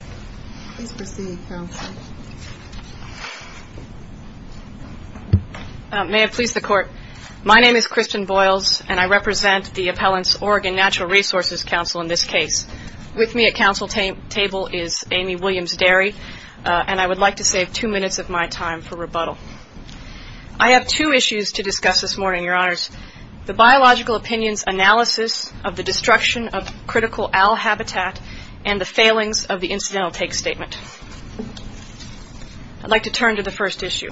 May I please the Court? My name is Kristen Boyles, and I represent the Appellant's Oregon Natural Resources Counsel in this case. With me at counsel table is Amy Williams-Derry, and I would like to save two minutes of my time for rebuttal. I have two issues to discuss this morning, Your Honors. The biological opinions analysis of the destruction of critical owl habitat and the failings of the incidental take statement. I'd like to turn to the first issue.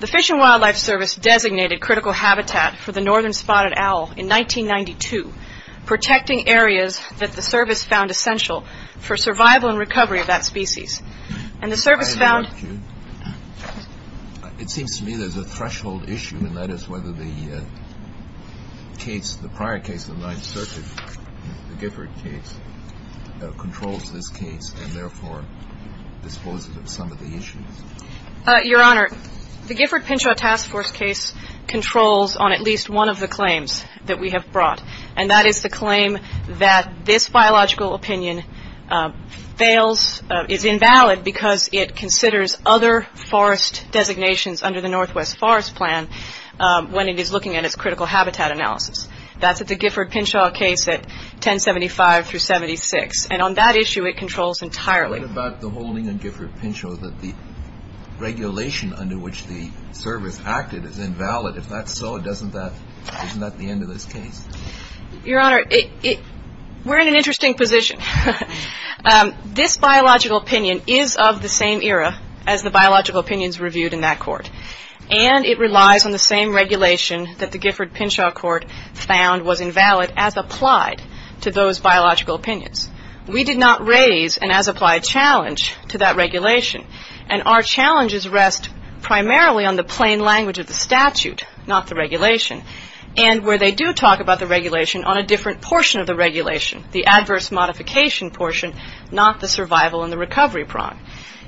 The Fish and Wildlife Service designated critical habitat for the northern spotted owl in 1992, protecting areas that the service found essential for survival and recovery of that species. And the service found- I have a question. It seems to me there's a threshold issue, and that is whether the prior case of the Ninth Circuit, the Gifford case, controls this case and therefore disposes of some of the issues. Your Honor, the Gifford-Pinchot Task Force case controls on at least one of the claims that we have brought, and that is the claim that this biological opinion fails, is invalid, because it considers other forest designations under the Northwest Forest Plan when it is critical habitat analysis. That's at the Gifford-Pinchot case at 1075-76, and on that issue it controls entirely. What about the holding on Gifford-Pinchot that the regulation under which the service acted is invalid? If that's so, isn't that the end of this case? Your Honor, we're in an interesting position. This biological opinion is of the same era as the biological opinions reviewed in that court, and it relies on the same regulation that the Gifford-Pinchot court found was invalid as applied to those biological opinions. We did not raise an as-applied challenge to that regulation, and our challenges rest primarily on the plain language of the statute, not the regulation, and where they do talk about the regulation on a different portion of the regulation, the adverse modification portion, not the survival and the recovery prong.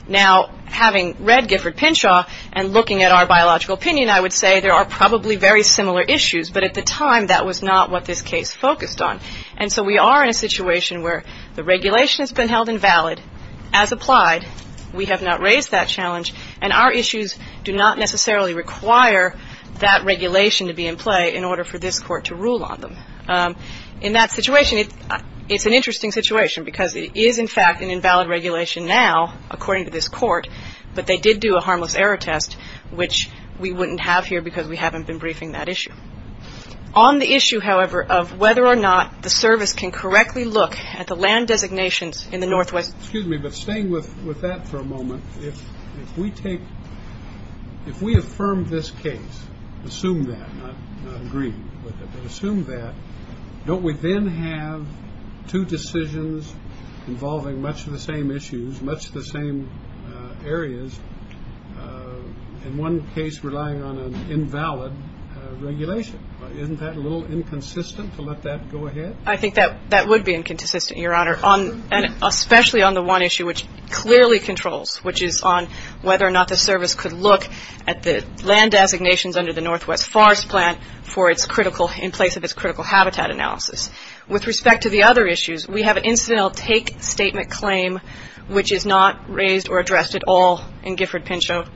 Now, having read Gifford-Pinchot and looking at our biological opinion, I would say there are probably very similar issues, but at the time that was not what this case focused on, and so we are in a situation where the regulation has been held invalid as applied. We have not raised that challenge, and our issues do not necessarily require that regulation to be in play in order for this court to rule on them. In that situation, it's an interesting situation because it is, in fact, an invalid regulation now according to this court, but they did do a harmless error test, which we wouldn't have here because we haven't been briefing that issue. On the issue, however, of whether or not the service can correctly look at the land designations in the Northwest. Excuse me, but staying with that for a moment, if we take, if we affirm this case, assume that, not agree with it, but assume that, don't we then have two decisions involving much of the same issues, much of the same areas, and one case relying on an invalid regulation? Isn't that a little inconsistent to let that go ahead? I think that would be inconsistent, Your Honor, especially on the one issue which clearly controls, which is on whether or not the service could look at the land designations under the Northwest Forest Plan for its critical, in place of its critical habitat analysis. With respect to the other issues, we have an incidental take statement claim which is not raised or addressed at all in Gifford-Pinchot.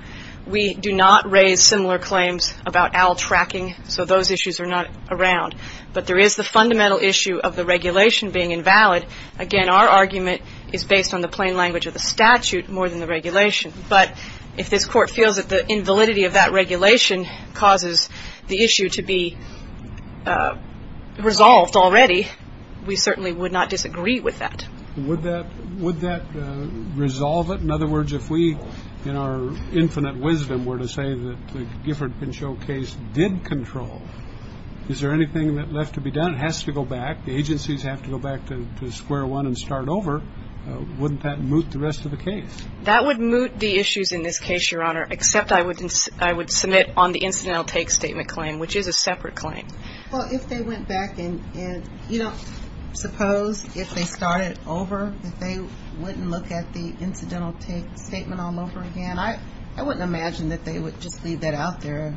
We do not raise similar claims about owl tracking, so those issues are not around, but there is the fundamental issue of the regulation being invalid. Again, our argument is based on the plain language of the statute more than the regulation, but if this court feels that the invalidity of that regulation causes the issue to be resolved already, we certainly would not disagree with that. Would that resolve it? In other words, if we, in our infinite wisdom, were to say that the Gifford-Pinchot case did control, is there anything that left to be done? It has to go back. The agencies have to go back to square one and start over. Wouldn't that moot the rest of the case? That would moot the issues in this case, Your Honor, except I would submit on the incidental take statement claim, which is a separate claim. Well, if they went back and, you know, suppose if they started over, if they wouldn't look at the incidental take statement all over again, I wouldn't imagine that they would just leave that out there,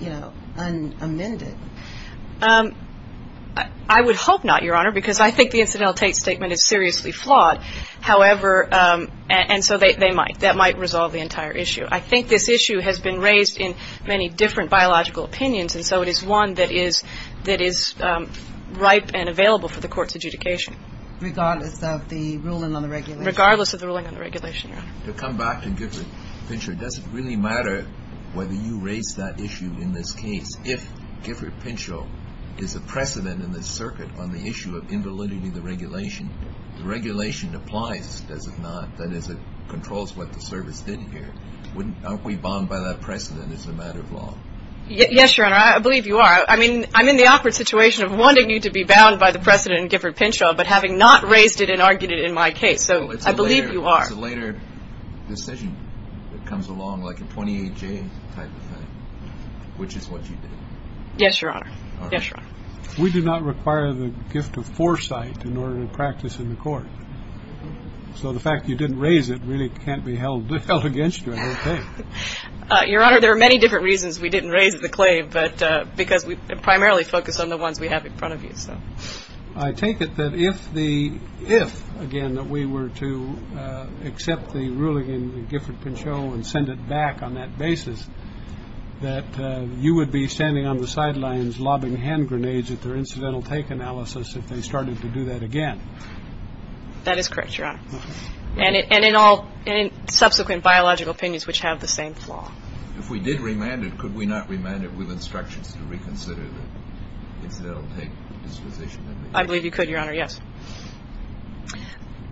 you know, unamended. I would hope not, Your Honor, because I think the incidental take statement is seriously flawed, however, and so they might. That might resolve the entire issue. I think this issue has been raised in many different biological opinions, and so it is one that is ripe and available for the Court's adjudication. Regardless of the ruling on the regulation? Regardless of the ruling on the regulation, Your Honor. To come back to Gifford-Pinchot, does it really matter whether you raise that issue in this case if Gifford-Pinchot is a precedent in the circuit on the issue of invalidity of the regulation? The regulation applies, does it not? That is, it controls what the service did here. Aren't we bound by that precedent as a matter of law? Yes, Your Honor, I believe you are. I mean, I'm in the awkward situation of wanting you to be bound by the precedent in Gifford-Pinchot, but having not raised it and argued it in my case, so I believe you are. It's a later decision that comes along, like a 28-J type of thing, which is what you did. Yes, Your Honor. Yes, Your Honor. We do not require the gift of foresight in order to practice in the Court, so the fact that you didn't raise it really can't be held against you, I don't think. Your Honor, there are many different reasons we didn't raise the claim, because we primarily focus on the ones we have in front of you. I take it that if, again, that we were to accept the ruling in Gifford-Pinchot and send it back on that basis, that you would be standing on the sidelines lobbing hand grenades at their incidental take analysis if they started to do that again. That is correct, Your Honor, and in all subsequent biological opinions which have the same flaw. If we did remand it, could we not remand it with instructions to reconsider the incidental take disposition? I believe you could, Your Honor, yes.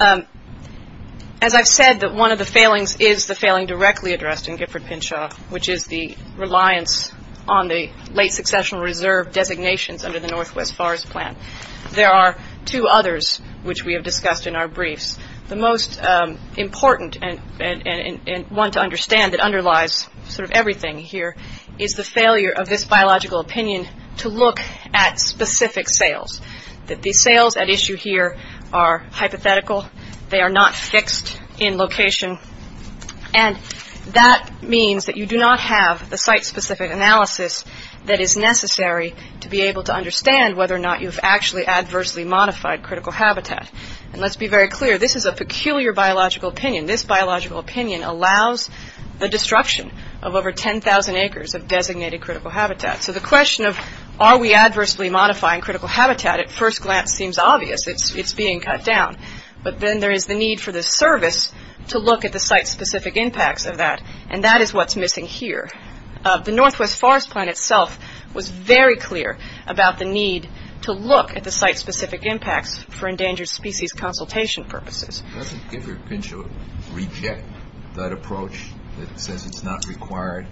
As I've said, that one of the failings is the failing directly addressed in Gifford-Pinchot, which is the reliance on the late successional reserve designations under the Northwest Forest Plan. There are two others which we have discussed in our briefs. The most important and one to understand that underlies sort of everything here is the failure of this biological opinion to look at specific sales, that the sales at issue here are hypothetical, they are not fixed in location, and that means that you do not have the site-specific analysis that is necessary to be able to understand whether or not you've actually adversely modified critical habitat. And let's be very clear, this is a peculiar biological opinion. This biological opinion allows the destruction of over 10,000 acres of designated critical habitat. So the question of are we adversely modifying critical habitat at first glance seems obvious. It's being cut down, but then there is the need for the service to look at the site-specific impacts of that, and that is what's missing here. The Northwest Forest Plan itself was very clear about the need to look at the site-specific impacts for endangered species consultation purposes. Does Gifford-Pinchot reject that approach that says it's not required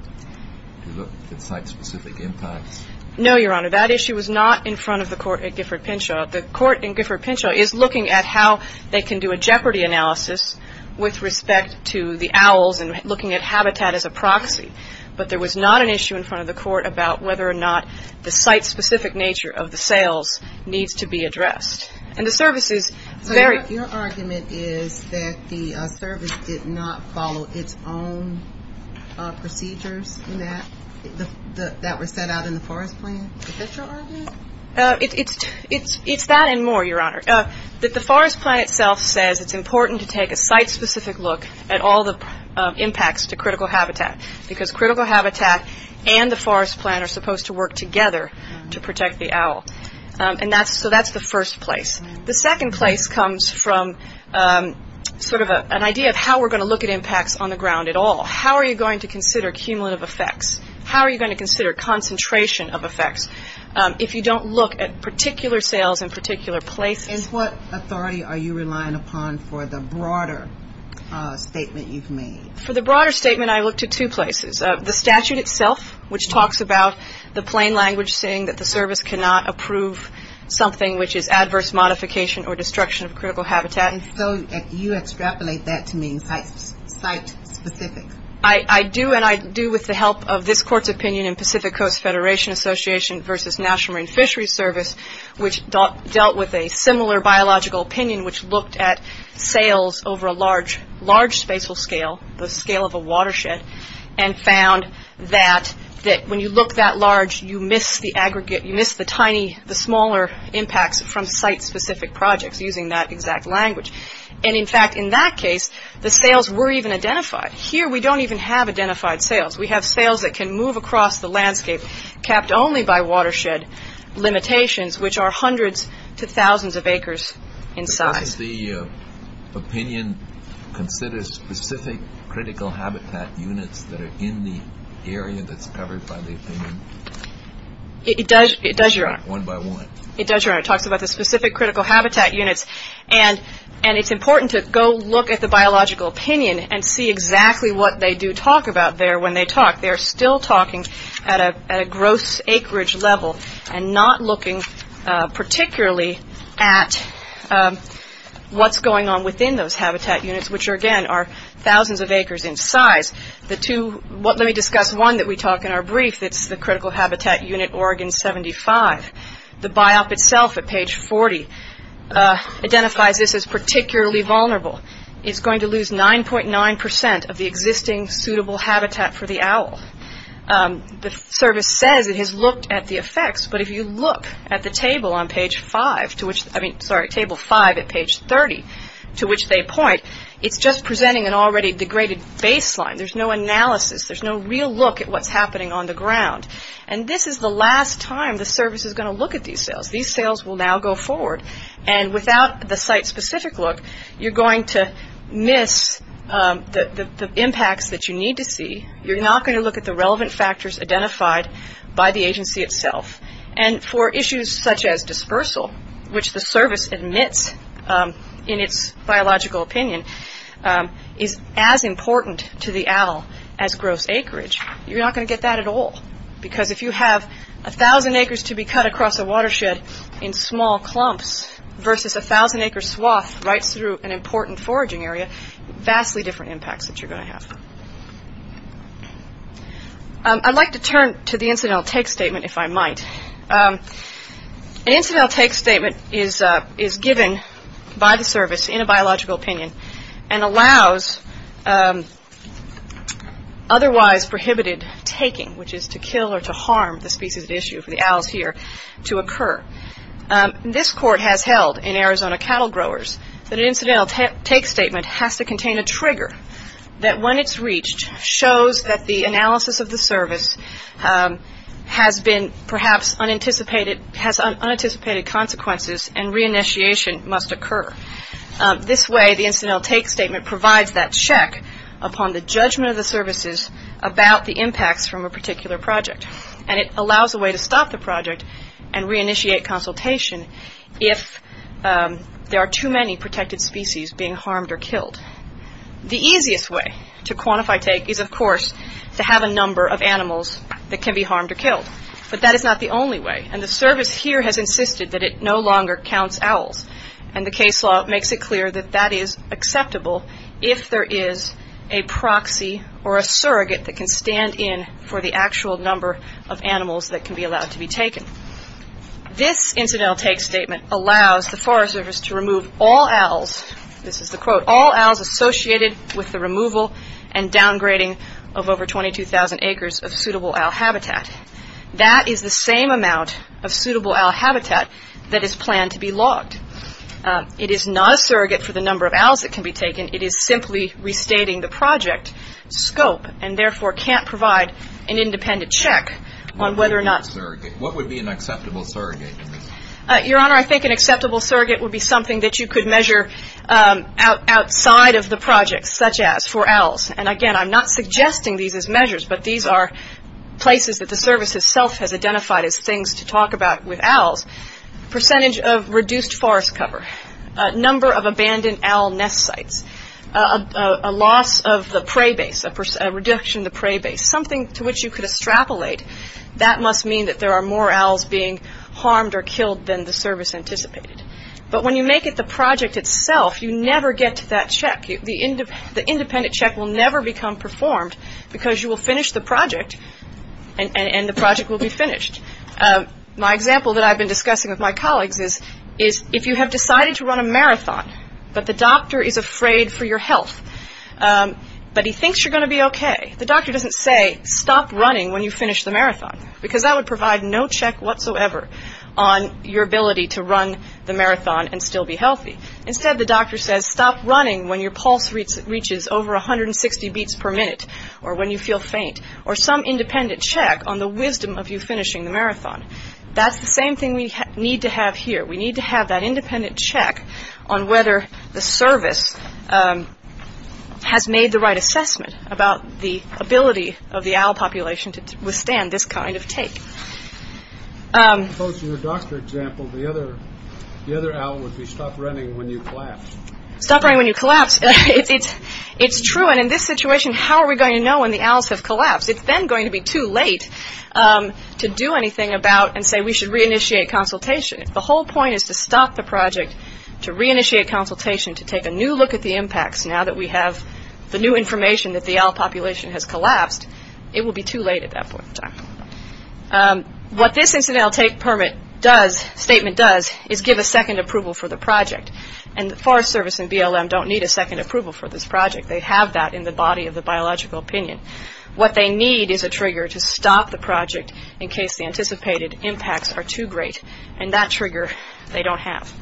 to look at site-specific impacts? No, Your Honor. That issue was not in front of the court at Gifford-Pinchot. The court in Gifford-Pinchot is looking at how they can do a jeopardy analysis with respect to the owls and looking at habitat as a proxy. But there was not an issue in front of the court about whether or not the site-specific nature of the sales needs to be addressed. And the service is very... So your argument is that the service did not follow its own procedures that were set out in the Forest Plan? Is that your argument? It's that and more, Your Honor. The Forest Plan itself says it's important to take a site-specific look at all the impacts to critical habitat because critical habitat and the Forest Plan are supposed to work together to protect the owl. And so that's the first place. The second place comes from sort of an idea of how we're going to look at impacts on the ground at all. How are you going to consider cumulative effects? How are you going to consider concentration of effects if you don't look at particular sales in particular places? And what authority are you relying upon for the broader statement you've made? For the broader statement, I looked at two places. The statute itself, which talks about the plain language saying that the service cannot approve something which is adverse modification or destruction of critical habitat. And so you extrapolate that to mean site-specific? I do and I do with the help of this Court's opinion in Pacific Coast Federation Association versus National Marine Fisheries Service, which dealt with a similar biological opinion which looked at sales over a large, large spatial scale, the scale of a watershed, and found that when you look that large, you miss the aggregate, you miss the tiny, the smaller impacts from site-specific projects using that exact language. And in fact, in that case, the sales were even identified. Here we don't even have identified sales. We have sales that can move across the landscape, capped only by watershed limitations, which are hundreds to thousands of acres in size. Does the opinion consider specific critical habitat units that are in the area that's covered by the opinion? It does, Your Honor. One by one. It does, Your Honor. It talks about the specific critical habitat units. And it's important to go look at the biological opinion and see exactly what they do talk about there when they talk. They are still talking at a gross acreage level and not looking particularly at what's going on within those habitat units, which again are thousands of acres in size. The two, let me discuss one that we talk in our brief, that's the critical habitat unit Oregon 75. The biop itself at page 40 identifies this as particularly vulnerable. It's going to lose 9.9% of the existing suitable habitat for the owl. The service says it has looked at the effects, but if you look at the table on page 5, sorry, table 5 at page 30, to which they point, it's just presenting an already degraded baseline. There's no analysis. There's no real look at what's happening on the ground. And this is the last time the service is going to look at these sales. These sales will now go forward. And without the site-specific look, you're going to miss the impacts that you need to see. You're not going to look at the relevant factors identified by the agency itself. And for issues such as dispersal, which the service admits in its biological opinion is as important to the owl as gross acreage, you're not going to get that at all. Because if you have 1,000 acres to be cut across a watershed in small clumps versus 1,000 acre swath right through an important foraging area, vastly different impacts that you're going to have. I'd like to turn to the incidental take statement if I might. An incidental take statement is given by the service in a biological opinion and allows otherwise prohibited taking, which is to kill or to harm the species at issue for the owls here, to occur. This court has held in Arizona Cattle Growers that an incidental take statement has to contain a trigger that when it's reached shows that the analysis of the service has been perhaps unanticipated, has unanticipated consequences and re-initiation must occur. This way the incidental take statement provides that check upon the judgment of the services about the impacts from a particular project. And it allows a way to stop the project and re-initiate consultation if there are too many protected species being harmed or killed. The easiest way to quantify take is of course to have a number of animals that can be harmed or killed. But that is not the only way. And the service here has insisted that it no longer counts owls. And the case law makes it clear that that is acceptable if there is a proxy or a surrogate that can stand in for the actual number of animals that can be allowed to be taken. This incidental take statement allows the Forest Service to remove all owls, this is the quote, all owls associated with the removal and downgrading of over 22,000 acres of suitable owl habitat. That is the same amount of suitable owl habitat that is planned to be logged. It is not a surrogate for the number of owls that can be taken, it is simply restating the project scope and therefore can't provide an independent check on whether or not... What would be an acceptable surrogate? Your Honor, I think an acceptable surrogate would be something that you could measure outside of the project, such as for owls. And again, I'm not suggesting these as measures, but these are places that the service itself has identified as things to talk about with owls. Percentage of reduced forest cover, number of abandoned owl nest sites, a loss of the prey base, a reduction of the prey base, something to which you could extrapolate. That must mean that there are more owls being harmed or killed than the service anticipated. But when you make it the project itself, you never get to that check. The independent check will never become performed because you will finish the project and the project will be finished. My example that I've been discussing with my colleagues is, if you have decided to run a marathon, but the doctor is afraid for your health, but he thinks you're going to be okay, the doctor doesn't say, stop running when you finish the marathon, because that would provide no check whatsoever on your ability to run the marathon and still be healthy. Instead, the doctor says, stop running when your pulse reaches over 160 beats per minute, or when you feel faint, or some independent check on the wisdom of you finishing the marathon. That's the same thing we need to have here. We need to have that independent check on whether the service has made the right assessment about the ability of the owl population to withstand this kind of take. As opposed to your doctor example, the other owl would be, stop running when you collapse. Stop running when you collapse. It's true, and in this situation, how are we going to know when the owls have collapsed? It's then going to be too late to do anything about and say, we should re-initiate consultation. The whole point is to stop the project, to re-initiate consultation, to take a new look at the impacts. Now that we have the new information that the owl population has collapsed, it will be too late at that point in time. What this incidental take permit does, statement does, is give a second approval for the project, and the Forest Service and BLM don't need a second approval for this project. They have that in the body of the biological opinion. What they need is a trigger to stop the project in case the anticipated impacts are too great, and that trigger they don't have.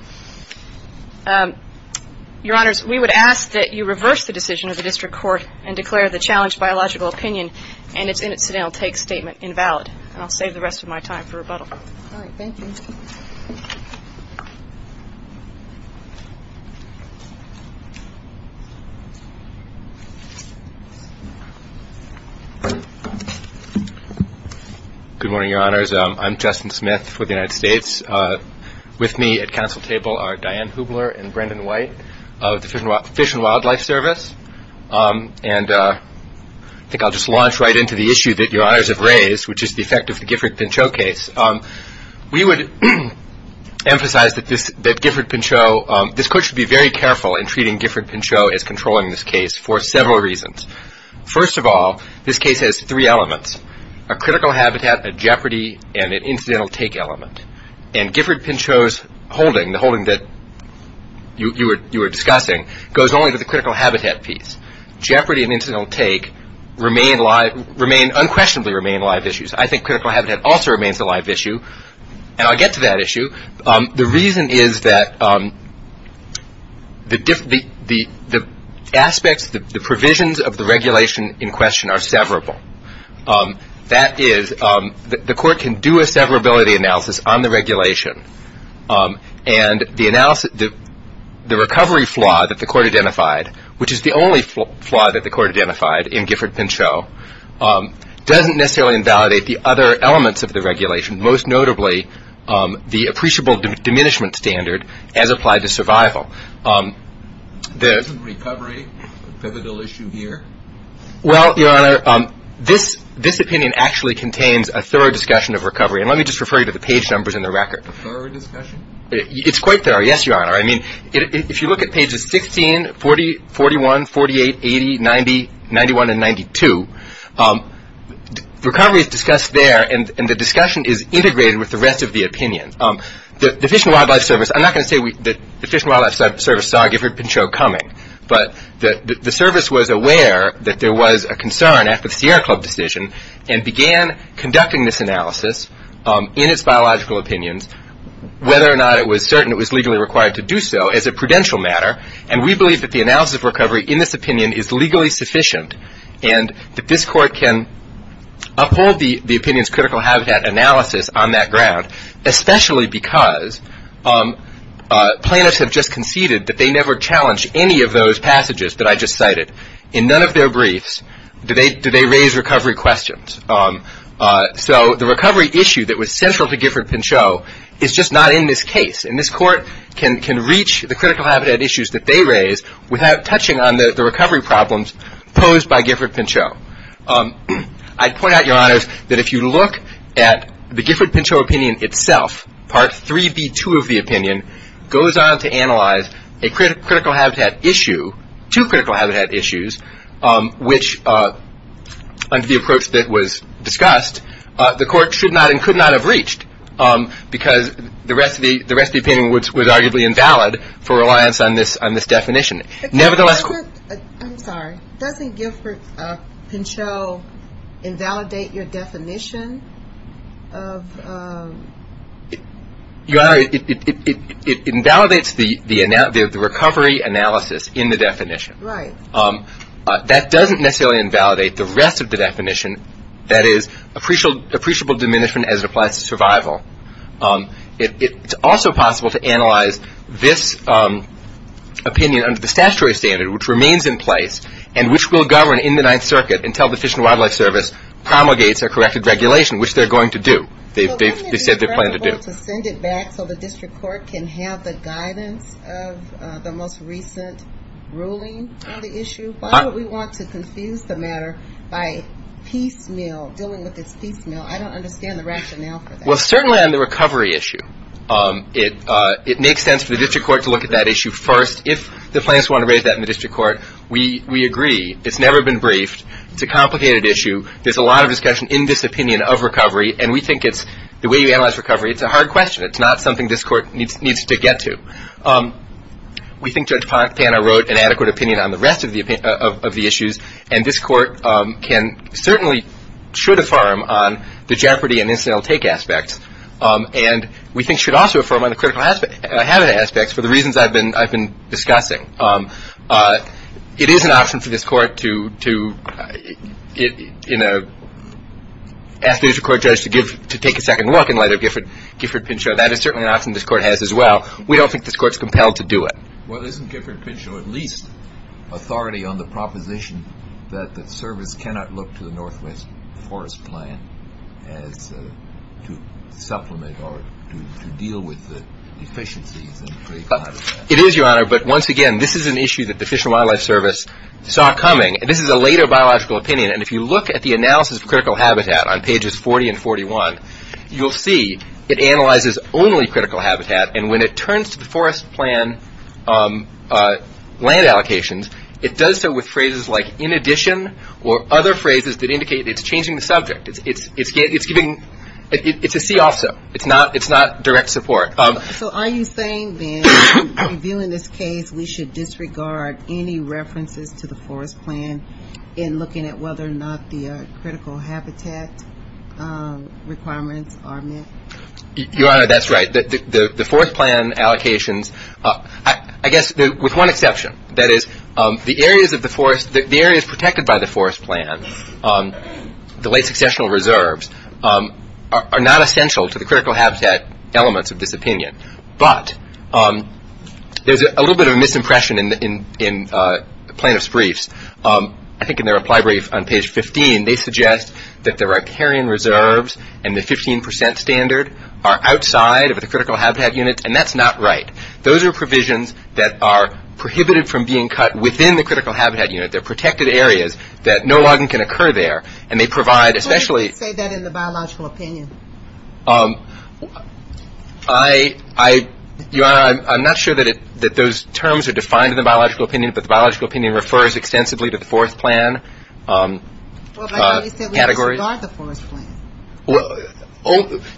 Your honors, we would ask that you reverse the decision of the district court and declare the challenged biological opinion and its incidental take statement invalid, and I'll save the rest of my time for rebuttal. All right, thank you. Good morning, your honors. I'm Justin Smith for the United States. With me at council table are Diane Hubler and Brendan White of the Fish and Wildlife Service, and I think I'll just launch right into the issue that your honors have raised, which is the effect of the Gifford-Pinchot case. We would emphasize that this, that Gifford-Pinchot, this court should be very careful in treating Gifford-Pinchot as controlling this case for several reasons. First of all, this case has three elements, a critical habitat, a jeopardy, and an incidental take element, and Gifford-Pinchot's holding, the holding that you were discussing, goes only to the critical habitat piece. Jeopardy and incidental take remain, unquestionably remain live issues. I think critical habitat also remains a live issue, and I'll get to that issue. The reason is that the aspects, the provisions of the regulation in question are severable. That is, the court can do a severability analysis on the regulation, and the recovery flaw that the court identified, which is the only flaw that the court identified in Gifford-Pinchot, doesn't necessarily invalidate the other elements of the regulation, most notably the appreciable diminishment standard as applied to survival. The recovery, the pivotal issue here? Well, your honor, this opinion actually contains a thorough discussion of recovery, and let me just refer you to the page numbers in the record. It's quite thorough, yes, your honor. I mean, if you look at pages 16, 40, 41, 48, 80, 90, 91, and 92, the recovery is discussed there, and the discussion is integrated with the rest of the opinion. The Fish and Wildlife Service, I'm not going to say that the Fish and Wildlife Service saw Gifford-Pinchot coming, but the service was aware that there was a concern after the Sierra Club decision, and began conducting this analysis in its biological opinions, whether or not it was certain it was legally required to do so as a prudential matter, and we believe that the analysis of recovery in this opinion is legally sufficient, and that this court can uphold the opinion's critical habitat analysis on that ground, especially because plaintiffs have just conceded that they never challenged any of those passages that I just cited. In none of their briefs do they raise recovery questions. So, the recovery issue that was central to Gifford-Pinchot is just not in this case, and this court can reach the critical habitat issues that they raise without touching on the recovery problems posed by Gifford-Pinchot. I'd point out, your honors, that if you look at the Gifford-Pinchot opinion itself, part 3b2 of the opinion, goes on to analyze a critical habitat issue, two critical habitat issues, which, under the approach that was discussed, the court should not and could not have reached, because the rest of the opinion was arguably invalid for reliance on this definition. Nevertheless... I'm sorry. Doesn't Gifford-Pinchot invalidate your definition of... Your honor, it invalidates the recovery analysis in the definition. Right. That doesn't necessarily invalidate the rest of the definition, that is, appreciable diminishment as it applies to survival. It's also possible to analyze this opinion under the statutory standard, which remains in place, and which will govern in the Ninth Circuit until the Fish and Wildlife Service promulgates their corrected regulation, which they're going to do, they've said they plan to do. So, isn't it preferable to send it back so the district court can have the guidance of the most recent ruling on the issue? Why would we want to confuse the matter by dealing with this piecemeal? I don't understand the rationale for that. Well, certainly on the recovery issue, it makes sense for the district court to look at that issue first. If the plaintiffs want to raise that in the district court, we agree. It's never been briefed. It's a complicated issue. There's a lot of discussion in this opinion of recovery, and we think the way you analyze recovery, it's a hard question. It's not something this court needs to get to. We think Judge Pana wrote an adequate opinion on the rest of the issues, and this court can certainly, should affirm on the jeopardy and incidental take aspects, and we think should also affirm on the critical habit aspects for the reasons I've been discussing. It is an option for this court to ask the district court judge to take a second look in light of Gifford-Pinchot. That is certainly an option this court has as well. We don't think this court's compelled to do it. Well, isn't Gifford-Pinchot at least authority on the proposition that the service cannot look to the Northwest Forest Plan as to supplement or to deal with the deficiencies in pre-ecology? It is, Your Honor, but once again, this is an issue that the Fish and Wildlife Service saw coming. This is a later biological opinion, and if you look at the analysis of critical habitat on pages 40 and 41, you'll see it analyzes only critical habitat, and when it turns to the Forest Plan land allocations, it does so with phrases like, in addition, or other phrases that indicate it's changing the subject. It's a see-also. It's not direct support. So are you saying then, in reviewing this case, we should disregard any references to the Forest Plan in looking at whether or not the critical habitat requirements are met? Your Honor, that's right. The Forest Plan allocations, I guess, with one exception, that is, the areas of the forest, the areas protected by the Forest Plan, the late successional reserves, are not essential to the critical habitat elements of this opinion, but there's a little bit of a misimpression in the plaintiff's briefs, I think in their reply brief on page 15, they suggest that the riparian reserves and the 15 percent standard are outside of the critical habitat units, and that's not right. Those are provisions that are prohibited from being cut within the critical habitat unit. They're protected areas that no logging can occur there, and they provide, especially So why do you say that in the biological opinion? I, Your Honor, I'm not sure that those terms are defined in the biological opinion, but the biological opinion refers extensively to the Forest Plan categories. Well, but you said we disregard the Forest Plan.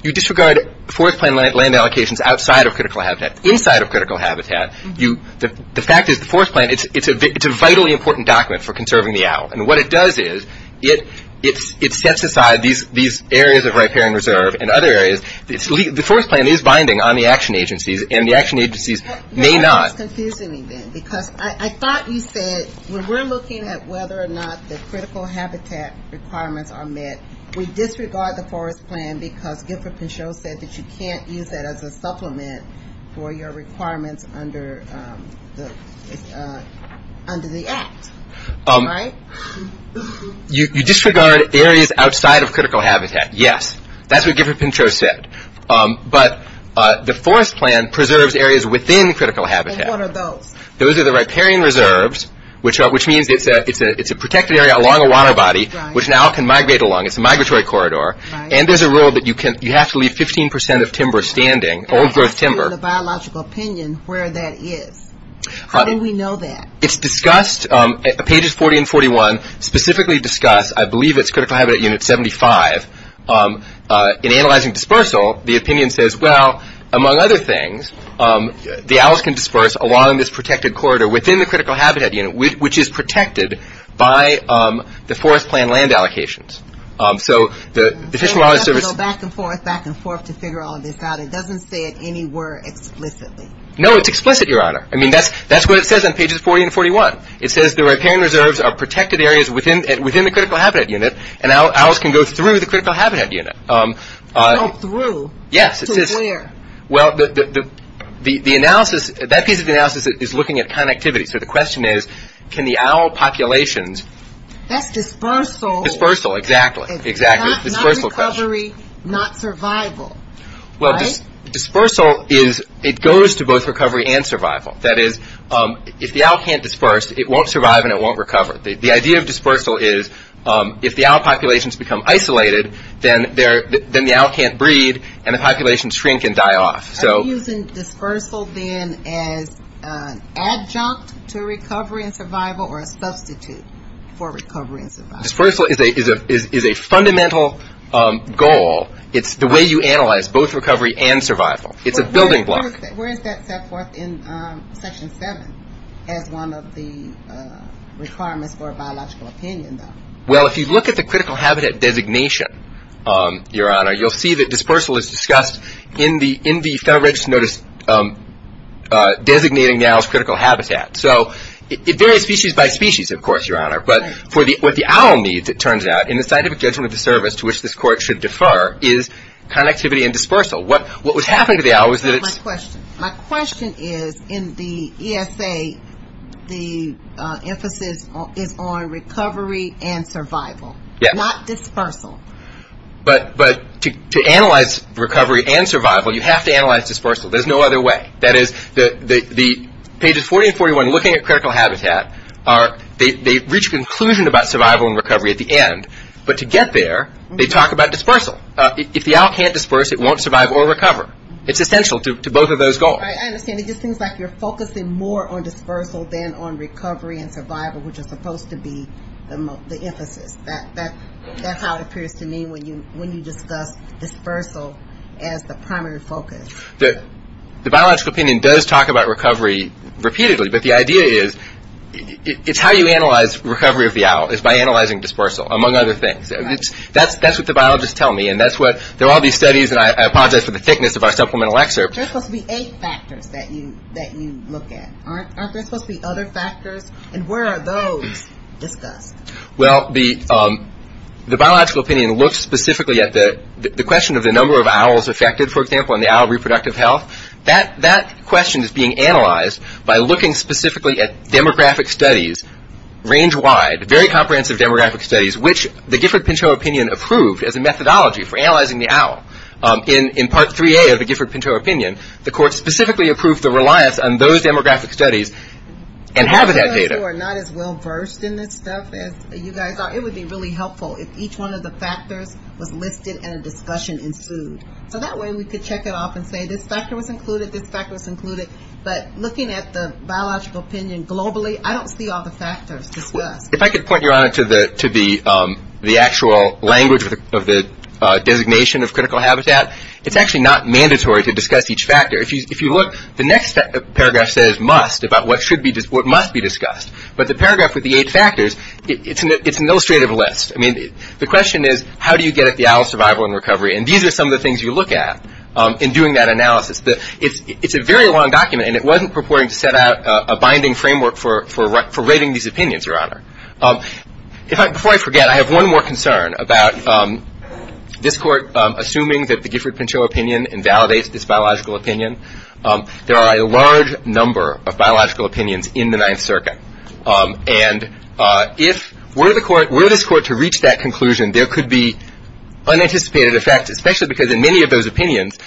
You disregard Forest Plan land allocations outside of critical habitat, inside of critical habitat. The fact is, the Forest Plan, it's a vitally important document for conserving the owl, and what it does is, it sets aside these areas of riparian reserve and other areas. The Forest Plan is binding on the action agencies, and the action agencies may not That's confusing me then, because I thought you said, when we're looking at whether or not the critical habitat requirements are met, we disregard the Forest Plan because Guilford Pinchot said that you can't use that as a supplement for your requirements under the Act, right? No, you disregard areas outside of critical habitat, yes. That's what Guilford Pinchot said, but the Forest Plan preserves areas within critical habitat. And what are those? Those are the riparian reserves, which means it's a protected area along a water body, which an owl can migrate along, it's a migratory corridor, and there's a rule that you have to leave 15% of timber standing, old growth timber And how do you know in the biological opinion where that is? How do we know that? It's discussed, pages 40 and 41, specifically discuss, I believe it's critical habitat unit 75, in analyzing dispersal, the opinion says, well, among other things, the owls can disperse along this protected corridor within the critical habitat unit, which is protected by the Forest Plan land allocations. So the Fish and Wildlife Service You have to go back and forth, back and forth to figure all of this out. It doesn't say it anywhere explicitly. No, it's explicit, Your Honor. I mean, that's what it says on pages 40 and 41. It says the riparian reserves are protected areas within the critical habitat unit, and owls can go through the critical habitat unit. Go through? Yes. To where? Well, the analysis, that piece of the analysis is looking at connectivity, so the question is, can the owl populations That's dispersal Dispersal, exactly. It's not recovery, not survival, right? Dispersal is, it goes to both recovery and survival. That is, if the owl can't disperse, it won't survive and it won't recover. The idea of dispersal is, if the owl populations become isolated, then the owl can't breed and the populations shrink and die off, so Are you using dispersal then as an adjunct to recovery and survival or a substitute for recovery and survival? Dispersal is a fundamental goal. It's the way you analyze both recovery and survival. It's a building block. Where is that set forth in Section 7 as one of the requirements for a biological opinion, though? Well, if you look at the critical habitat designation, Your Honor, you'll see that dispersal is discussed in the Federal Register Notice designating the owl's critical habitat. So it varies species by species, of course, Your Honor, but for what the owl needs, it My question is, in the ESA, the emphasis is on recovery and survival, not dispersal. But to analyze recovery and survival, you have to analyze dispersal. There's no other way. That is, pages 40 and 41, looking at critical habitat, they reach a conclusion about survival and recovery at the end. But to get there, they talk about dispersal. If the owl can't disperse, it won't survive or recover. It's essential to both of those goals. I understand. It just seems like you're focusing more on dispersal than on recovery and survival, which is supposed to be the emphasis. That's how it appears to me when you discuss dispersal as the primary focus. The biological opinion does talk about recovery repeatedly, but the idea is it's how you analyze recovery of the owl, is by analyzing dispersal, among other things. That's what the biologists tell me. There are all these studies, and I apologize for the thickness of our supplemental excerpt. There are supposed to be eight factors that you look at, aren't there supposed to be other factors? And where are those discussed? Well, the biological opinion looks specifically at the question of the number of owls affected, for example, in the owl reproductive health. That question is being analyzed by looking specifically at demographic studies, range-wide, very comprehensive demographic studies, which the Gifford-Pinto opinion approved as a methodology for analyzing the owl. In Part 3A of the Gifford-Pinto opinion, the court specifically approved the reliance on those demographic studies and have that data. For those who are not as well-versed in this stuff as you guys are, it would be really helpful if each one of the factors was listed and a discussion ensued. So that way we could check it off and say this factor was included, this factor was included. But looking at the biological opinion globally, I don't see all the factors discussed. If I could point your honor to the actual language of the designation of critical habitat, it's actually not mandatory to discuss each factor. If you look, the next paragraph says must, about what must be discussed. But the paragraph with the eight factors, it's an illustrative list. The question is how do you get at the owl survival and recovery, and these are some of the things you look at in doing that analysis. It's a very long document, and it wasn't purporting to set out a binding framework for rating these opinions, your honor. Before I forget, I have one more concern about this Court assuming that the Gifford-Pinto opinion invalidates this biological opinion. There are a large number of biological opinions in the Ninth Circuit. And if were this Court to reach that conclusion, there could be unanticipated effects, especially because in many of those opinions,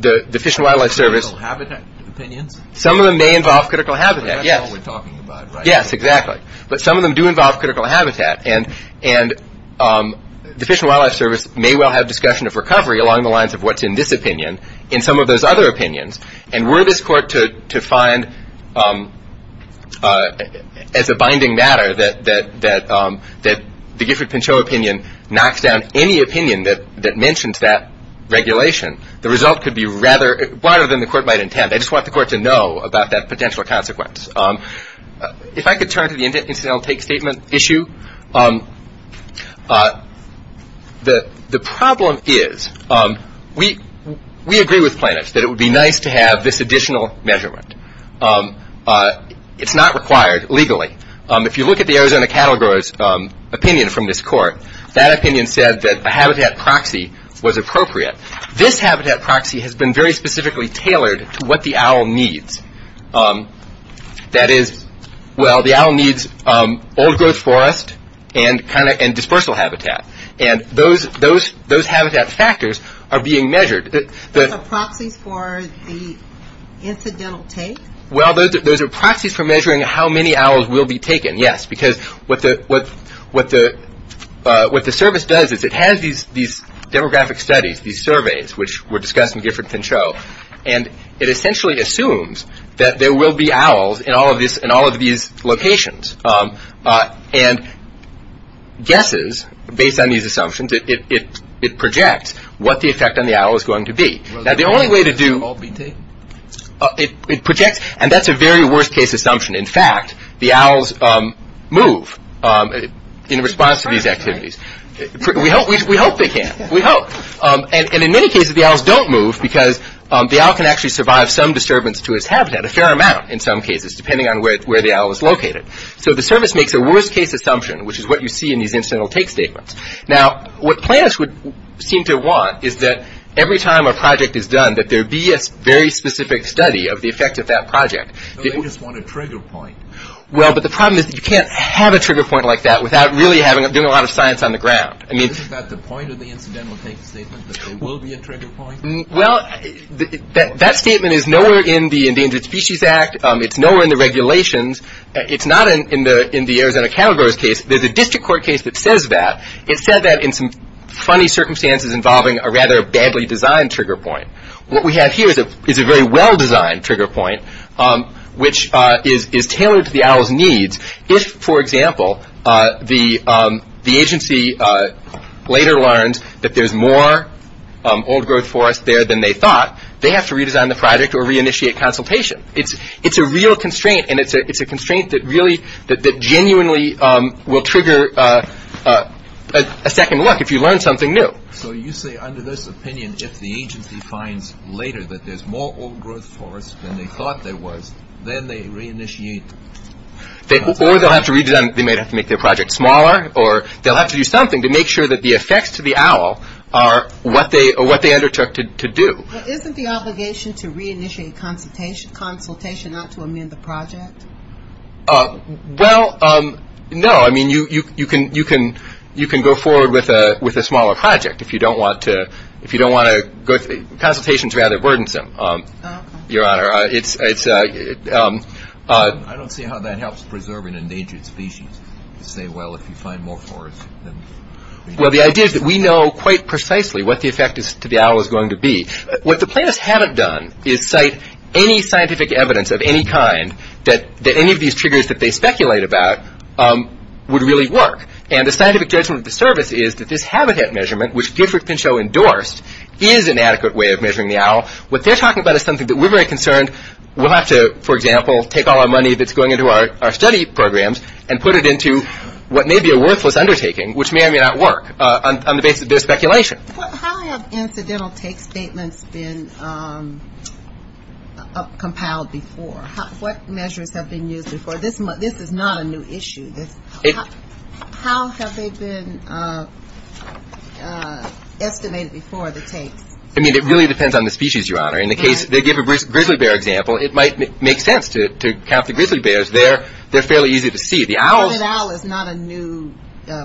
the Fish and Wildlife Service… Critical habitat opinions? Some of them may involve critical habitat, yes. That's all we're talking about right now. Yes, exactly. But some of them do involve critical habitat, and the Fish and Wildlife Service may well have discussion of recovery along the lines of what's in this opinion in some of those other opinions. And were this Court to find as a binding matter that the Gifford-Pinto opinion knocks down any opinion that mentions that regulation, the result could be rather… broader than the Court might intend. I just want the Court to know about that potential consequence. If I could turn to the incidental take statement issue. The problem is, we agree with Planoff that it would be nice to have this additional measurement. It's not required legally. If you look at the Arizona Cattle Grower's opinion from this Court, that opinion said that a habitat proxy was appropriate. This habitat proxy has been very specifically tailored to what the owl needs. That is, well, the owl needs old-growth forest and dispersal habitat, and those habitat factors are being measured. Those are proxies for the incidental take? Well, those are proxies for measuring how many owls will be taken, yes, because what the Service does is it has these demographic studies, these surveys, which were discussed in Gifford-Pinto, and it essentially assumes that there will be owls in all of these locations, and guesses, based on these assumptions, it projects what the effect on the owl is going to be. Now, the only way to do… Will the owl be taken? It projects, and that's a very worst-case assumption. In fact, the owls move in response to these activities. We hope they can. We hope. And in many cases, the owls don't move because the owl can actually survive some disturbance to its habitat, a fair amount in some cases, depending on where the owl is located. So the Service makes a worst-case assumption, which is what you see in these incidental take statements. Now, what planners would seem to want is that every time a project is done, that there be a very specific study of the effect of that project. They just want a trigger point. Well, but the problem is that you can't have a trigger point like that without really doing a lot of science on the ground. I mean… Isn't that the point of the incidental take statement, that there will be a trigger point? Well, that statement is nowhere in the Endangered Species Act. It's nowhere in the regulations. It's not in the Arizona cattle growers case. There's a district court case that says that. It said that in some funny circumstances involving a rather badly designed trigger point. What we have here is a very well-designed trigger point, which is tailored to the owl's needs. If, for example, the agency later learns that there's more old-growth forest there than they thought, they have to redesign the project or re-initiate consultation. It's a real constraint, and it's a constraint that genuinely will trigger a second look if you learn something new. So you say under this opinion, if the agency finds later that there's more old-growth forest than they thought there was, then they re-initiate consultation? Or they'll have to redesign. They may have to make their project smaller, or they'll have to do something to make sure that the effects to the owl are what they undertook to do. Isn't the obligation to re-initiate consultation not to amend the project? Well, no. I mean, you can go forward with a smaller project if you don't want to go through it. Consultation's rather burdensome, Your Honor. I don't see how that helps preserve an endangered species to say, well, if you find more forest than we thought. Well, the idea is that we know quite precisely what the effect to the owl is going to be. What the plaintiffs haven't done is cite any scientific evidence of any kind that any of these triggers that they speculate about would really work. And the scientific judgment of the service is that this habitat measurement, which Gifford Pinchot endorsed, is an adequate way of measuring the owl. What they're talking about is something that we're very concerned we'll have to, for example, take all our money that's going into our study programs and put it into what may be a worthless undertaking, which may or may not work on the basis of their speculation. How have incidental take statements been compiled before? What measures have been used before? This is not a new issue. How have they been estimated before the takes? I mean, it really depends on the species, Your Honor. In the case they give a grizzly bear example, it might make sense to count the grizzly bears. They're fairly easy to see. The spotted owl is not a new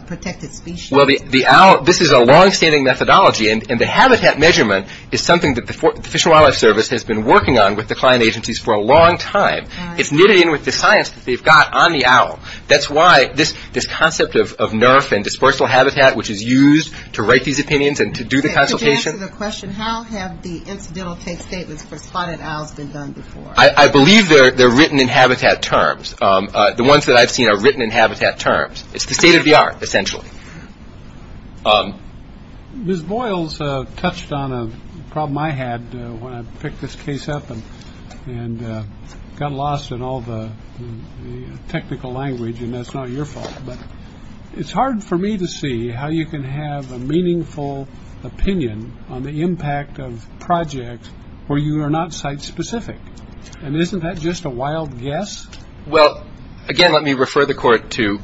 protected species. This is a long-standing methodology, and the habitat measurement is something that the Fish and Wildlife Service has been working on with the client agencies for a long time. It's knitted in with the science that they've got on the owl. That's why this concept of NERF and dispersal habitat, which is used to write these opinions and to do the consultation. To answer the question, how have the incidental take statements for spotted owls been done before? I believe they're written in habitat terms. The ones that I've seen are written in habitat terms. It's the state of the art, essentially. Ms. Boyles touched on a problem I had when I picked this case up and got lost in all the technical language, and that's not your fault. It's hard for me to see how you can have a meaningful opinion on the impact of projects where you are not site-specific, and isn't that just a wild guess? Well, again, let me refer the court to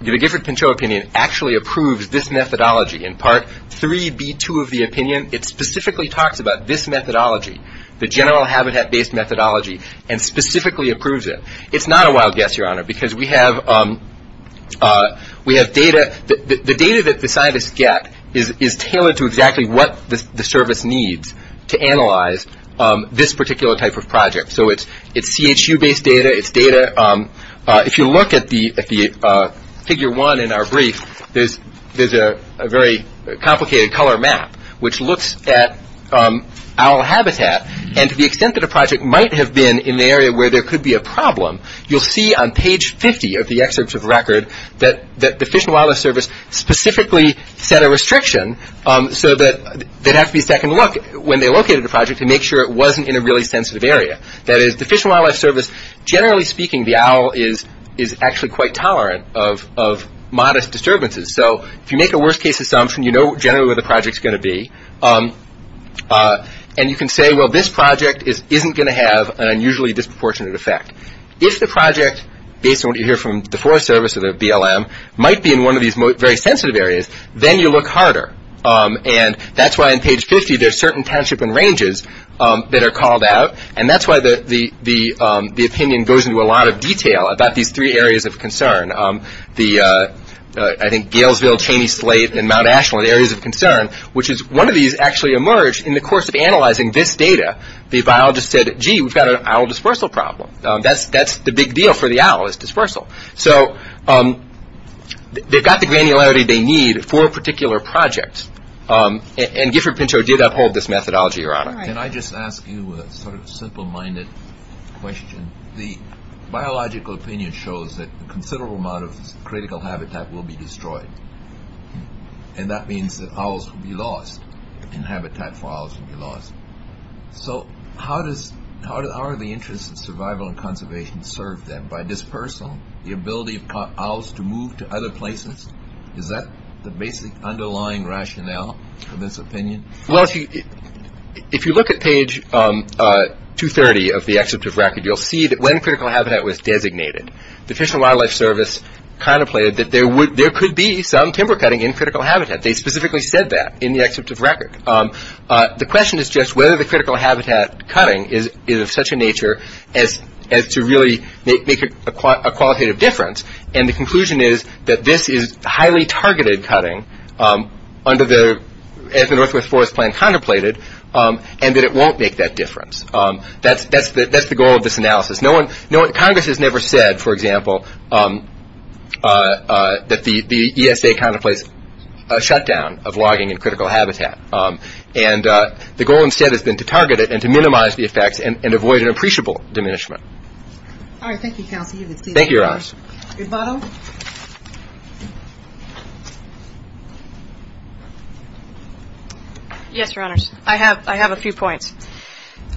the Gifford-Pinchot opinion actually approves this methodology in part 3b2 of the opinion. It specifically talks about this methodology, the general habitat-based methodology, and specifically approves it. It's not a wild guess, Your Honor, because we have data. The data that the scientists get is tailored to exactly what the service needs to analyze this particular type of project. So it's CHU-based data, it's data. If you look at the figure 1 in our brief, there's a very complicated color map which looks at owl habitat, and to the extent that a project might have been in the area where there could be a problem, you'll see on page 50 of the excerpt of record that the Fish and Wildlife Service specifically set a restriction so that there'd have to be a second look when they located the project to make sure it wasn't in a really sensitive area. That is, the Fish and Wildlife Service, generally speaking, the owl is actually quite tolerant of modest disturbances. So if you make a worst-case assumption, you know generally where the project's going to be, and you can say, well, this project isn't going to have an unusually disproportionate effect. If the project, based on what you hear from the Forest Service or the BLM, might be in one of these very sensitive areas, then you look harder. And that's why on page 50 there's certain townships and ranges that are called out, and that's why the opinion goes into a lot of detail about these three areas of concern. I think Galesville, Cheney Slate, and Mount Ashland are areas of concern, which is one of these actually emerged in the course of analyzing this data. The biologist said, gee, we've got an owl dispersal problem. That's the big deal for the owl, is dispersal. So they've got the granularity they need for a particular project, and Gifford-Pinto did uphold this methodology, Your Honor. Can I just ask you a sort of simple-minded question? The biological opinion shows that a considerable amount of critical habitat will be destroyed, and that means that owls will be lost, and habitat for owls will be lost. So how are the interests of survival and conservation served then? By dispersal, the ability of owls to move to other places? Is that the basic underlying rationale for this opinion? If you look at page 230 of the excerpt of record, you'll see that when critical habitat was designated, the Fish and Wildlife Service contemplated that there could be some timber cutting in critical habitat. They specifically said that in the excerpt of record. The question is just whether the critical habitat cutting is of such a nature as to really make a qualitative difference, and the conclusion is that this is highly targeted cutting as the Northwest Forest Plan contemplated, and that it won't make that difference. That's the goal of this analysis. Congress has never said, for example, that the ESA contemplates a shutdown of logging in critical habitat, and the goal instead has been to target it and to minimize the diminishment. All right. Thank you, Counsel. Thank you, Your Honors. Ms. Botto? Yes, Your Honors. I have a few points.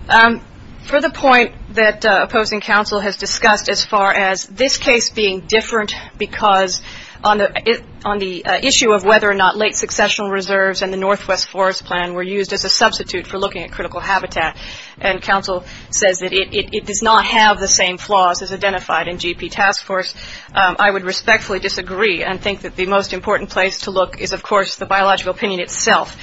For the point that opposing counsel has discussed as far as this case being different because on the issue of whether or not late successional reserves and the Northwest Forest Plan were used as a substitute for looking at critical habitat, and counsel says that it does not have the same flaws as identified in GP Task Force, I would respectfully disagree and think that the most important place to look is, of course, the biological opinion itself.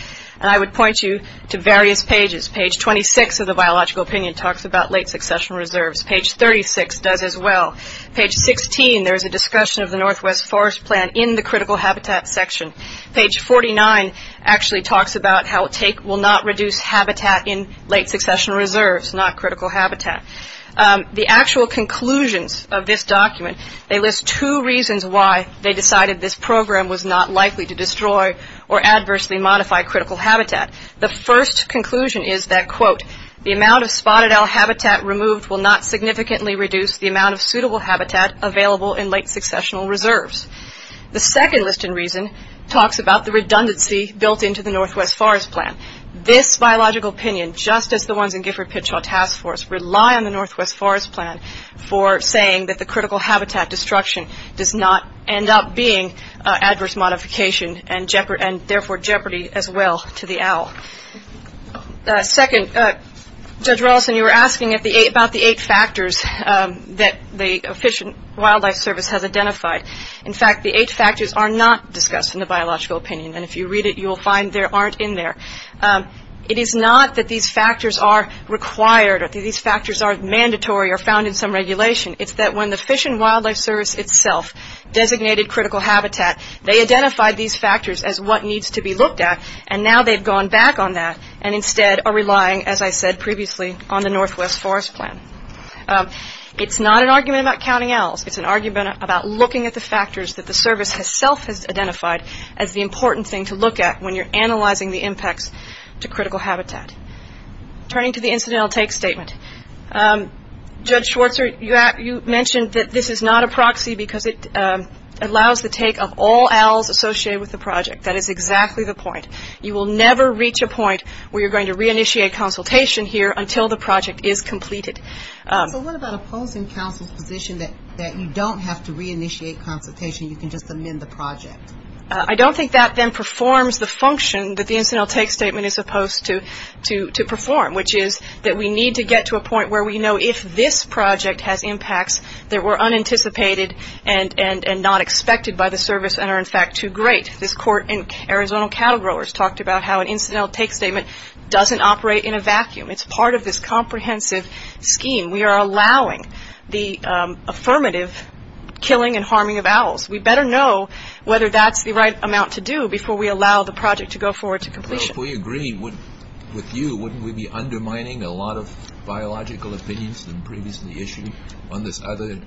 I would point you to various pages. Page 26 of the biological opinion talks about late successional reserves. Page 36 does as well. Page 16, there is a discussion of the Northwest Forest Plan in the critical habitat section. Page 49 actually talks about how it will not reduce habitat in late successional reserves, not critical habitat. The actual conclusions of this document, they list two reasons why they decided this program was not likely to destroy or adversely modify critical habitat. The first conclusion is that, quote, the amount of spotted owl habitat removed will not significantly reduce the amount of suitable habitat available in late successional reserves. The second list in reason talks about the redundancy built into the Northwest Forest Plan. This biological opinion, just as the ones in Gifford Pitchaw Task Force, rely on the Northwest Forest Plan for saying that the critical habitat destruction does not end up being adverse modification and therefore jeopardy as well to the owl. Second, Judge Rolison, you were asking about the eight factors that the Fish and Wildlife Service has identified. In fact, the eight factors are not discussed in the biological opinion, and if you read it, you will find there aren't in there. It is not that these factors are required or these factors are mandatory or found in some regulation. It's that when the Fish and Wildlife Service itself designated critical habitat, they identified these factors as what needs to be looked at, and now they've gone back on that and instead are relying, as I said previously, on the Northwest Forest Plan. It's not an argument about counting owls. It's an argument about looking at the factors that the service itself has identified as the important thing to look at when you're analyzing the impacts to critical habitat. Turning to the incidental take statement, Judge Schwarzer, you mentioned that this is not a proxy because it allows the take of all owls associated with the project. That is exactly the point. You will never reach a point where you're going to re-initiate consultation here until the project is completed. So what about opposing counsel's position that you don't have to re-initiate consultation, you can just amend the project? I don't think that then performs the function that the incidental take statement is supposed to perform, which is that we need to get to a point where we know if this project has impacts that were unanticipated and not expected by the service and are, in fact, too great. This court in Arizona Cattle Growers talked about how an incidental take statement doesn't operate in a vacuum. It's part of this comprehensive scheme. We are allowing the affirmative killing and harming of owls. We better know whether that's the right amount to do before we allow the project to go forward to completion. If we agree with you, wouldn't we be undermining a lot of biological opinions that were previously issued on this other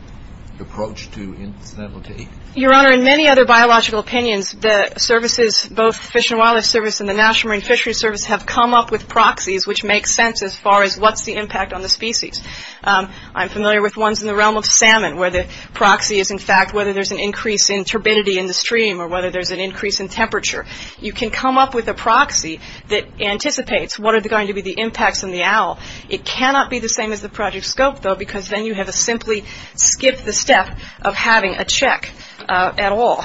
approach to incidental take? Your Honor, in many other biological opinions, the services, both Fish and Wildlife Service and the National Marine Fisheries Service have come up with proxies which make sense as far as what's the impact on the species. I'm familiar with ones in the realm of salmon where the proxy is, in fact, whether there's an increase in turbidity in the stream or whether there's an increase in temperature. You can come up with a proxy that anticipates what are going to be the impacts on the owl. It cannot be the same as the project scope, though, because then you have to simply skip the step of having a check at all.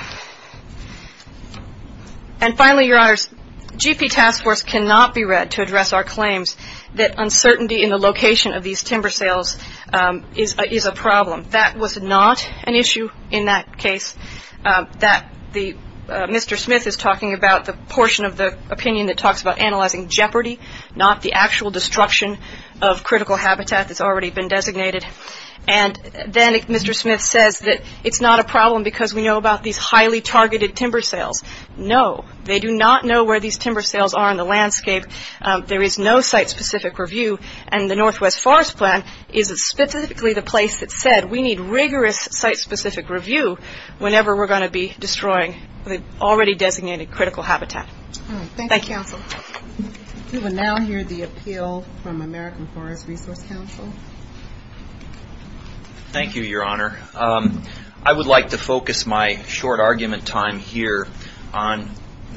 Finally, Your Honors, GP Task Force cannot be read to address our claims that uncertainty in the location of these timber sales is a problem. That was not an issue in that case. Mr. Smith is talking about the portion of the opinion that talks about analyzing jeopardy, not the actual destruction of critical habitat that's already been designated. Then Mr. Smith says that it's not a problem because we know about these highly targeted timber sales. No. They do not know where these timber sales are in the landscape. There is no site-specific review. The Northwest Forest Plan is specifically the place that said we need rigorous site-specific review whenever we're going to be destroying the already designated critical habitat. Thank you. Thank you, counsel. We will now hear the appeal from American Forest Resource Council. Thank you, Your Honor. I would like to focus my short argument time here on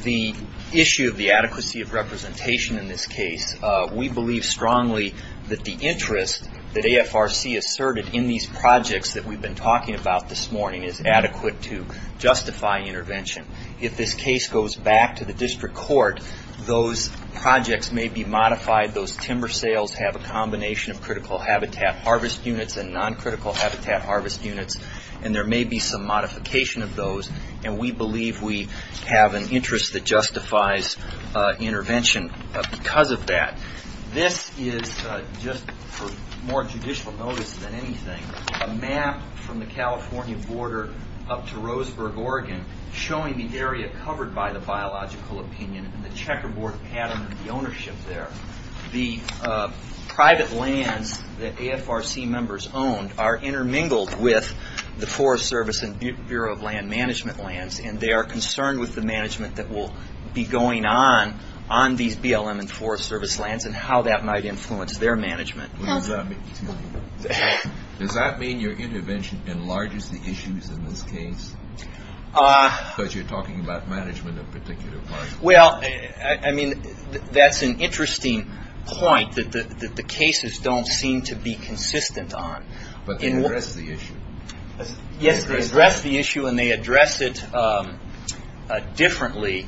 the issue of the adequacy of representation in this case. We believe strongly that the interest that AFRC asserted in these projects that we've been talking about this morning is adequate to justify intervention. If this case goes back to the district court, those projects may be modified. Those timber sales have a combination of critical habitat harvest units and non-critical habitat harvest units. There may be some modification of those. We believe we have an interest that justifies intervention because of that. This is, just for more judicial notice than anything, a map from the California border up to Roseburg, Oregon, showing the area covered by the biological opinion and the checkerboard pattern of the ownership there. The private lands that AFRC members owned are intermingled with the Forest Service and Bureau of Land Management lands. They are concerned with the management that will be going on on these BLM and Forest Service lands and how that might influence their management. Does that mean your intervention enlarges the issues in this case? Because you're talking about management of particular parts. Well, I mean, that's an interesting point that the cases don't seem to be consistent on. But they address the issue. Yes, they address the issue and they address it differently.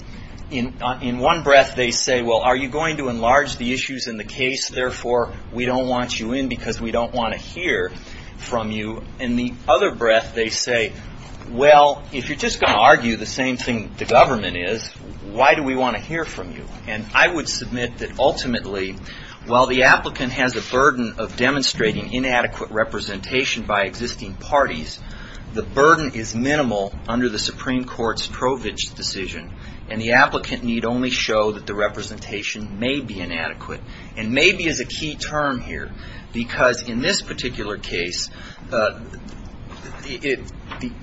In one breath they say, well, are you going to enlarge the issues in the case, therefore we don't want you in because we don't want to hear from you. In the other breath they say, well, if you're just going to argue the same thing the government is, why do we want to hear from you? I would submit that ultimately, while the applicant has a burden of demonstrating inadequate representation by existing parties, the burden is minimal under the Supreme Court's Provich decision and the applicant need only show that the representation may be inadequate. And maybe is a key term here because in this particular case, the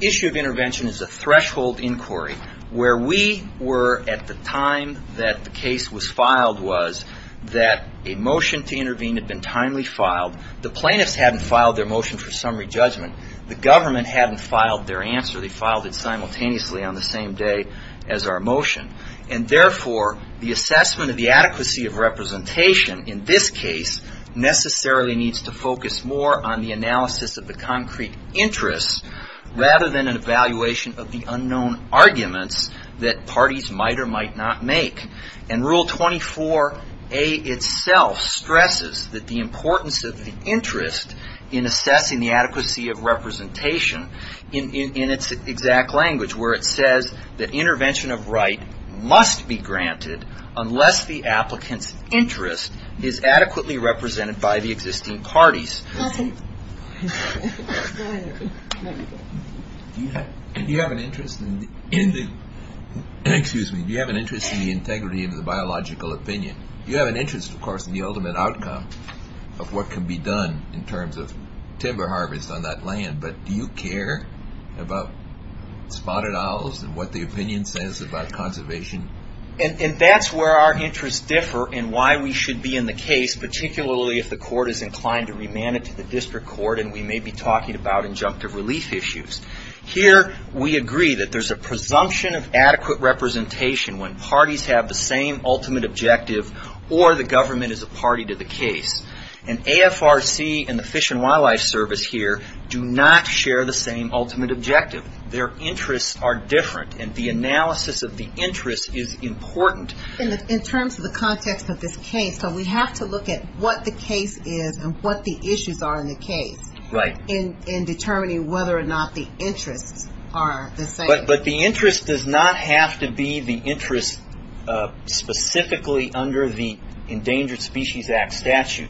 issue of intervention is a threshold inquiry where we were at the time that the case was filed was that a motion to intervene had been timely filed. The plaintiffs hadn't filed their motion for summary judgment. The government hadn't filed their answer. They filed it simultaneously on the same day as our motion. And therefore, the assessment of the adequacy of representation in this case necessarily needs to focus more on the analysis of the concrete interests rather than an evaluation of the unknown arguments that parties might or might not make. And Rule 24A itself stresses that the importance of the interest in assessing the adequacy of representation in its exact language where it says that intervention of right must be granted unless the applicant's interest is adequately represented by the existing parties. Do you have an interest in the integrity of the biological opinion? Do you have an interest, of course, in the ultimate outcome of what can be done in terms of timber harvest on that land, but do you care about spotted owls and what the opinion says about conservation? And that's where our interests differ and why we should be in the case, particularly if the court is inclined to remand it to the district court and we may be talking about injunctive relief issues. Here we agree that there's a presumption of adequate representation when parties have the same ultimate objective or the government is a party to the case. And AFRC and the Fish and Wildlife Service here do not share the same ultimate objective. Their interests are different and the analysis of the interest is important. In terms of the context of this case, we have to look at what the case is and what the issues are in the case in determining whether or not the interests are the same. But the interest does not have to be the interest specifically under the Endangered Species Act statute.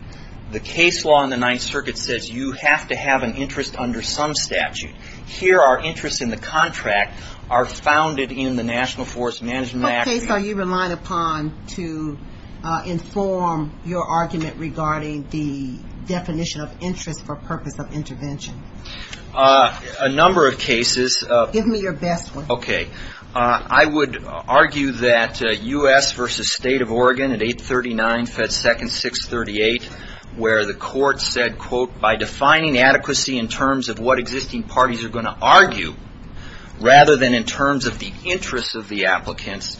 The case law in the Ninth Circuit says you have to have an interest under some statute. Here our interests in the contract are founded in the National Forest Management Act. Okay, so you rely upon to inform your argument regarding the definition of interest for purpose of intervention. A number of cases. Give me your best one. Okay, I would argue that U.S. v. State of Oregon at 839 Fed Second 638 where the court said quote, by defining adequacy in terms of what existing parties are going to argue rather than in terms of the interests of the applicants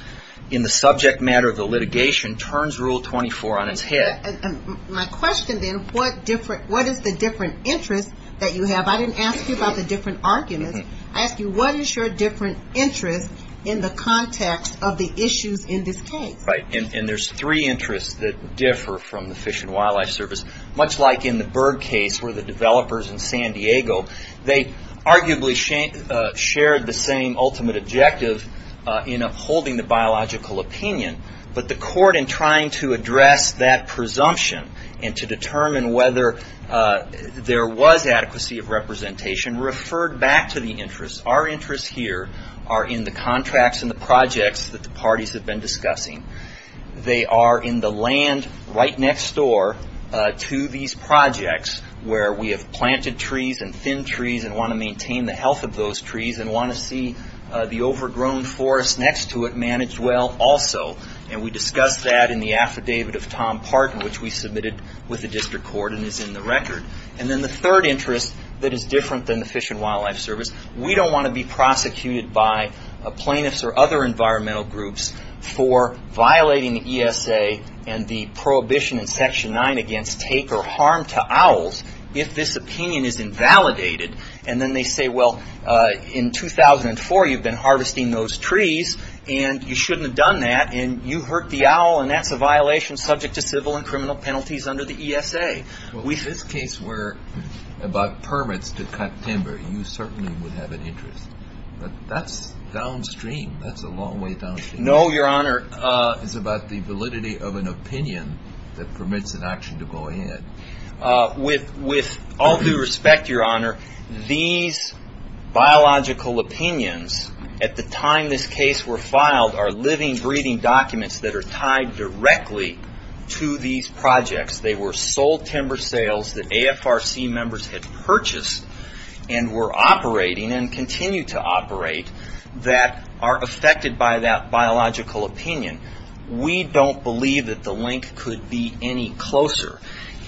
in the subject matter of the litigation turns Rule 24 on its head. My question then, what is the different interest that you have? I didn't ask you about the different arguments. I asked you what is your different interest in the context of the issues in this case? Right, and there's three interests that differ from the Fish and Wildlife Service. Much like in the bird case where the developers in San Diego, they arguably shared the same ultimate objective in upholding the biological opinion. But the court in trying to address that presumption and to determine whether there was adequacy of representation referred back to the interests. Our interests here are in the contracts and the projects that the parties have been discussing. They are in the land right next door to these projects where we have planted trees and thin trees and want to maintain the health of those trees and want to see the overgrown forest next to it managed well also. We discussed that in the affidavit of Tom Parton which we submitted with the district court and is in the record. The third interest that is different than the Fish and Wildlife Service, we don't want to be prosecuted by plaintiffs or other environmental groups for violating the ESA and the prohibition in section 9 against take or harm to owls if this opinion is invalidated. Then they say, well, in 2004 you've been harvesting those trees and you shouldn't have done that and you hurt the owl and that's a violation subject to civil and criminal penalties under the ESA. If this case were about permits to cut timber, you certainly would have an interest. That's downstream. That's a long way downstream. No, Your Honor. It's about the validity of an opinion that permits an action to go ahead. With all due respect, Your Honor, these biological opinions at the time this case were filed are living, breathing documents that are tied directly to these projects. They were sold timber sales that AFRC members had purchased and were operating and continue to operate that are affected by that biological opinion. We don't believe that the link could be any closer.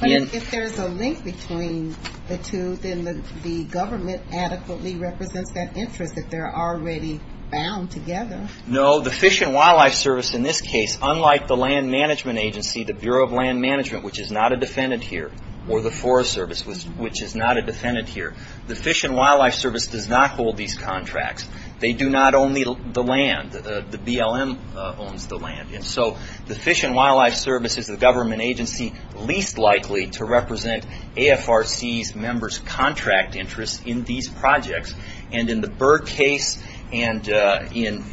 If there's a link between the two, then the government adequately represents that interest that they're already bound together. No, the Fish and Wildlife Service in this case, unlike the Land Management Agency, the Fish and Wildlife Service, which is not a defendant here, or the Forest Service, which is not a defendant here, the Fish and Wildlife Service does not hold these contracts. They do not own the land. The BLM owns the land. The Fish and Wildlife Service is the government agency least likely to represent AFRC's member's contract interest in these projects. In the Bird case and in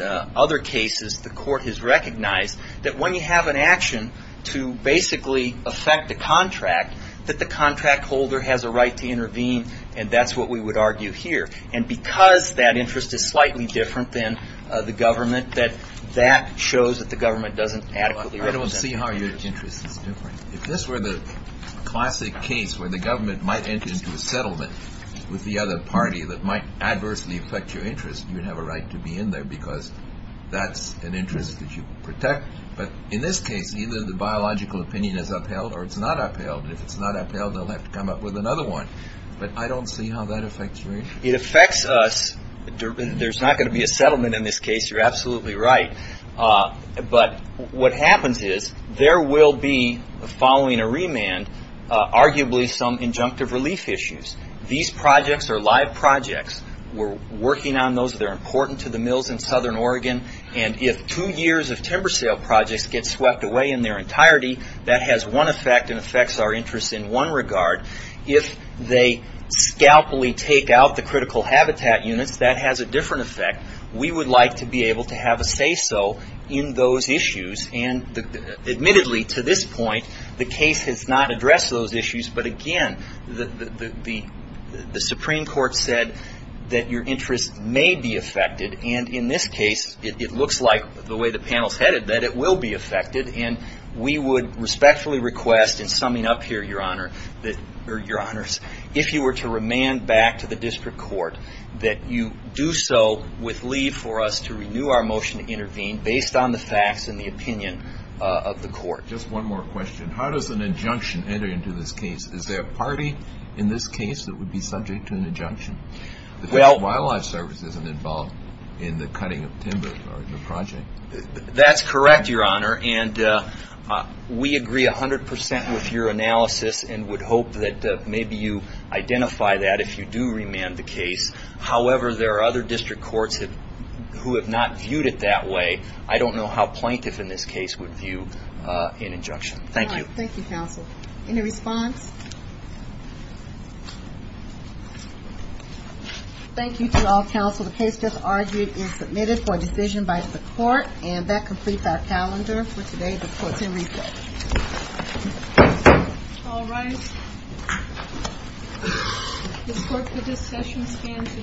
other cases, the court has recognized that when you have an action to basically affect a contract, that the contract holder has a right to intervene, and that's what we would argue here. Because that interest is slightly different than the government, that shows that the government doesn't adequately represent it. I don't see how your interest is different. If this were the classic case where the government might enter into a settlement with the other party that might adversely affect your interest, you'd have a right to be in there because that's an interest that you protect. But in this case, either the biological opinion is upheld or it's not upheld, and if it's not upheld, they'll have to come up with another one, but I don't see how that affects you. It affects us. There's not going to be a settlement in this case, you're absolutely right, but what happens is there will be, following a remand, arguably some injunctive relief issues. These projects are live projects, we're working on those, they're important to the mills in get swept away in their entirety. That has one effect and affects our interest in one regard. If they scalpel-y take out the critical habitat units, that has a different effect. We would like to be able to have a say-so in those issues, and admittedly, to this point, the case has not addressed those issues, but again, the Supreme Court said that your interest may be affected, and in this case, it looks like the way the panel's headed, that it will be affected, and we would respectfully request, in summing up here, your honors, if you were to remand back to the district court, that you do so with leave for us to renew our motion to intervene based on the facts and the opinion of the court. Just one more question. How does an injunction enter into this case? Is there a party in this case that would be subject to an injunction? The District Wildlife Service isn't involved in the cutting of timber or in the project. That's correct, your honor, and we agree 100% with your analysis and would hope that maybe you identify that if you do remand the case, however, there are other district courts who have not viewed it that way. I don't know how plaintiff in this case would view an injunction. Thank you. Thank you, counsel. Any response? Thank you to all counsel. The case that's argued is submitted for a decision by the court, and that completes our calendar for today. The court's in recess. All rise. The court for this session stands adjourned.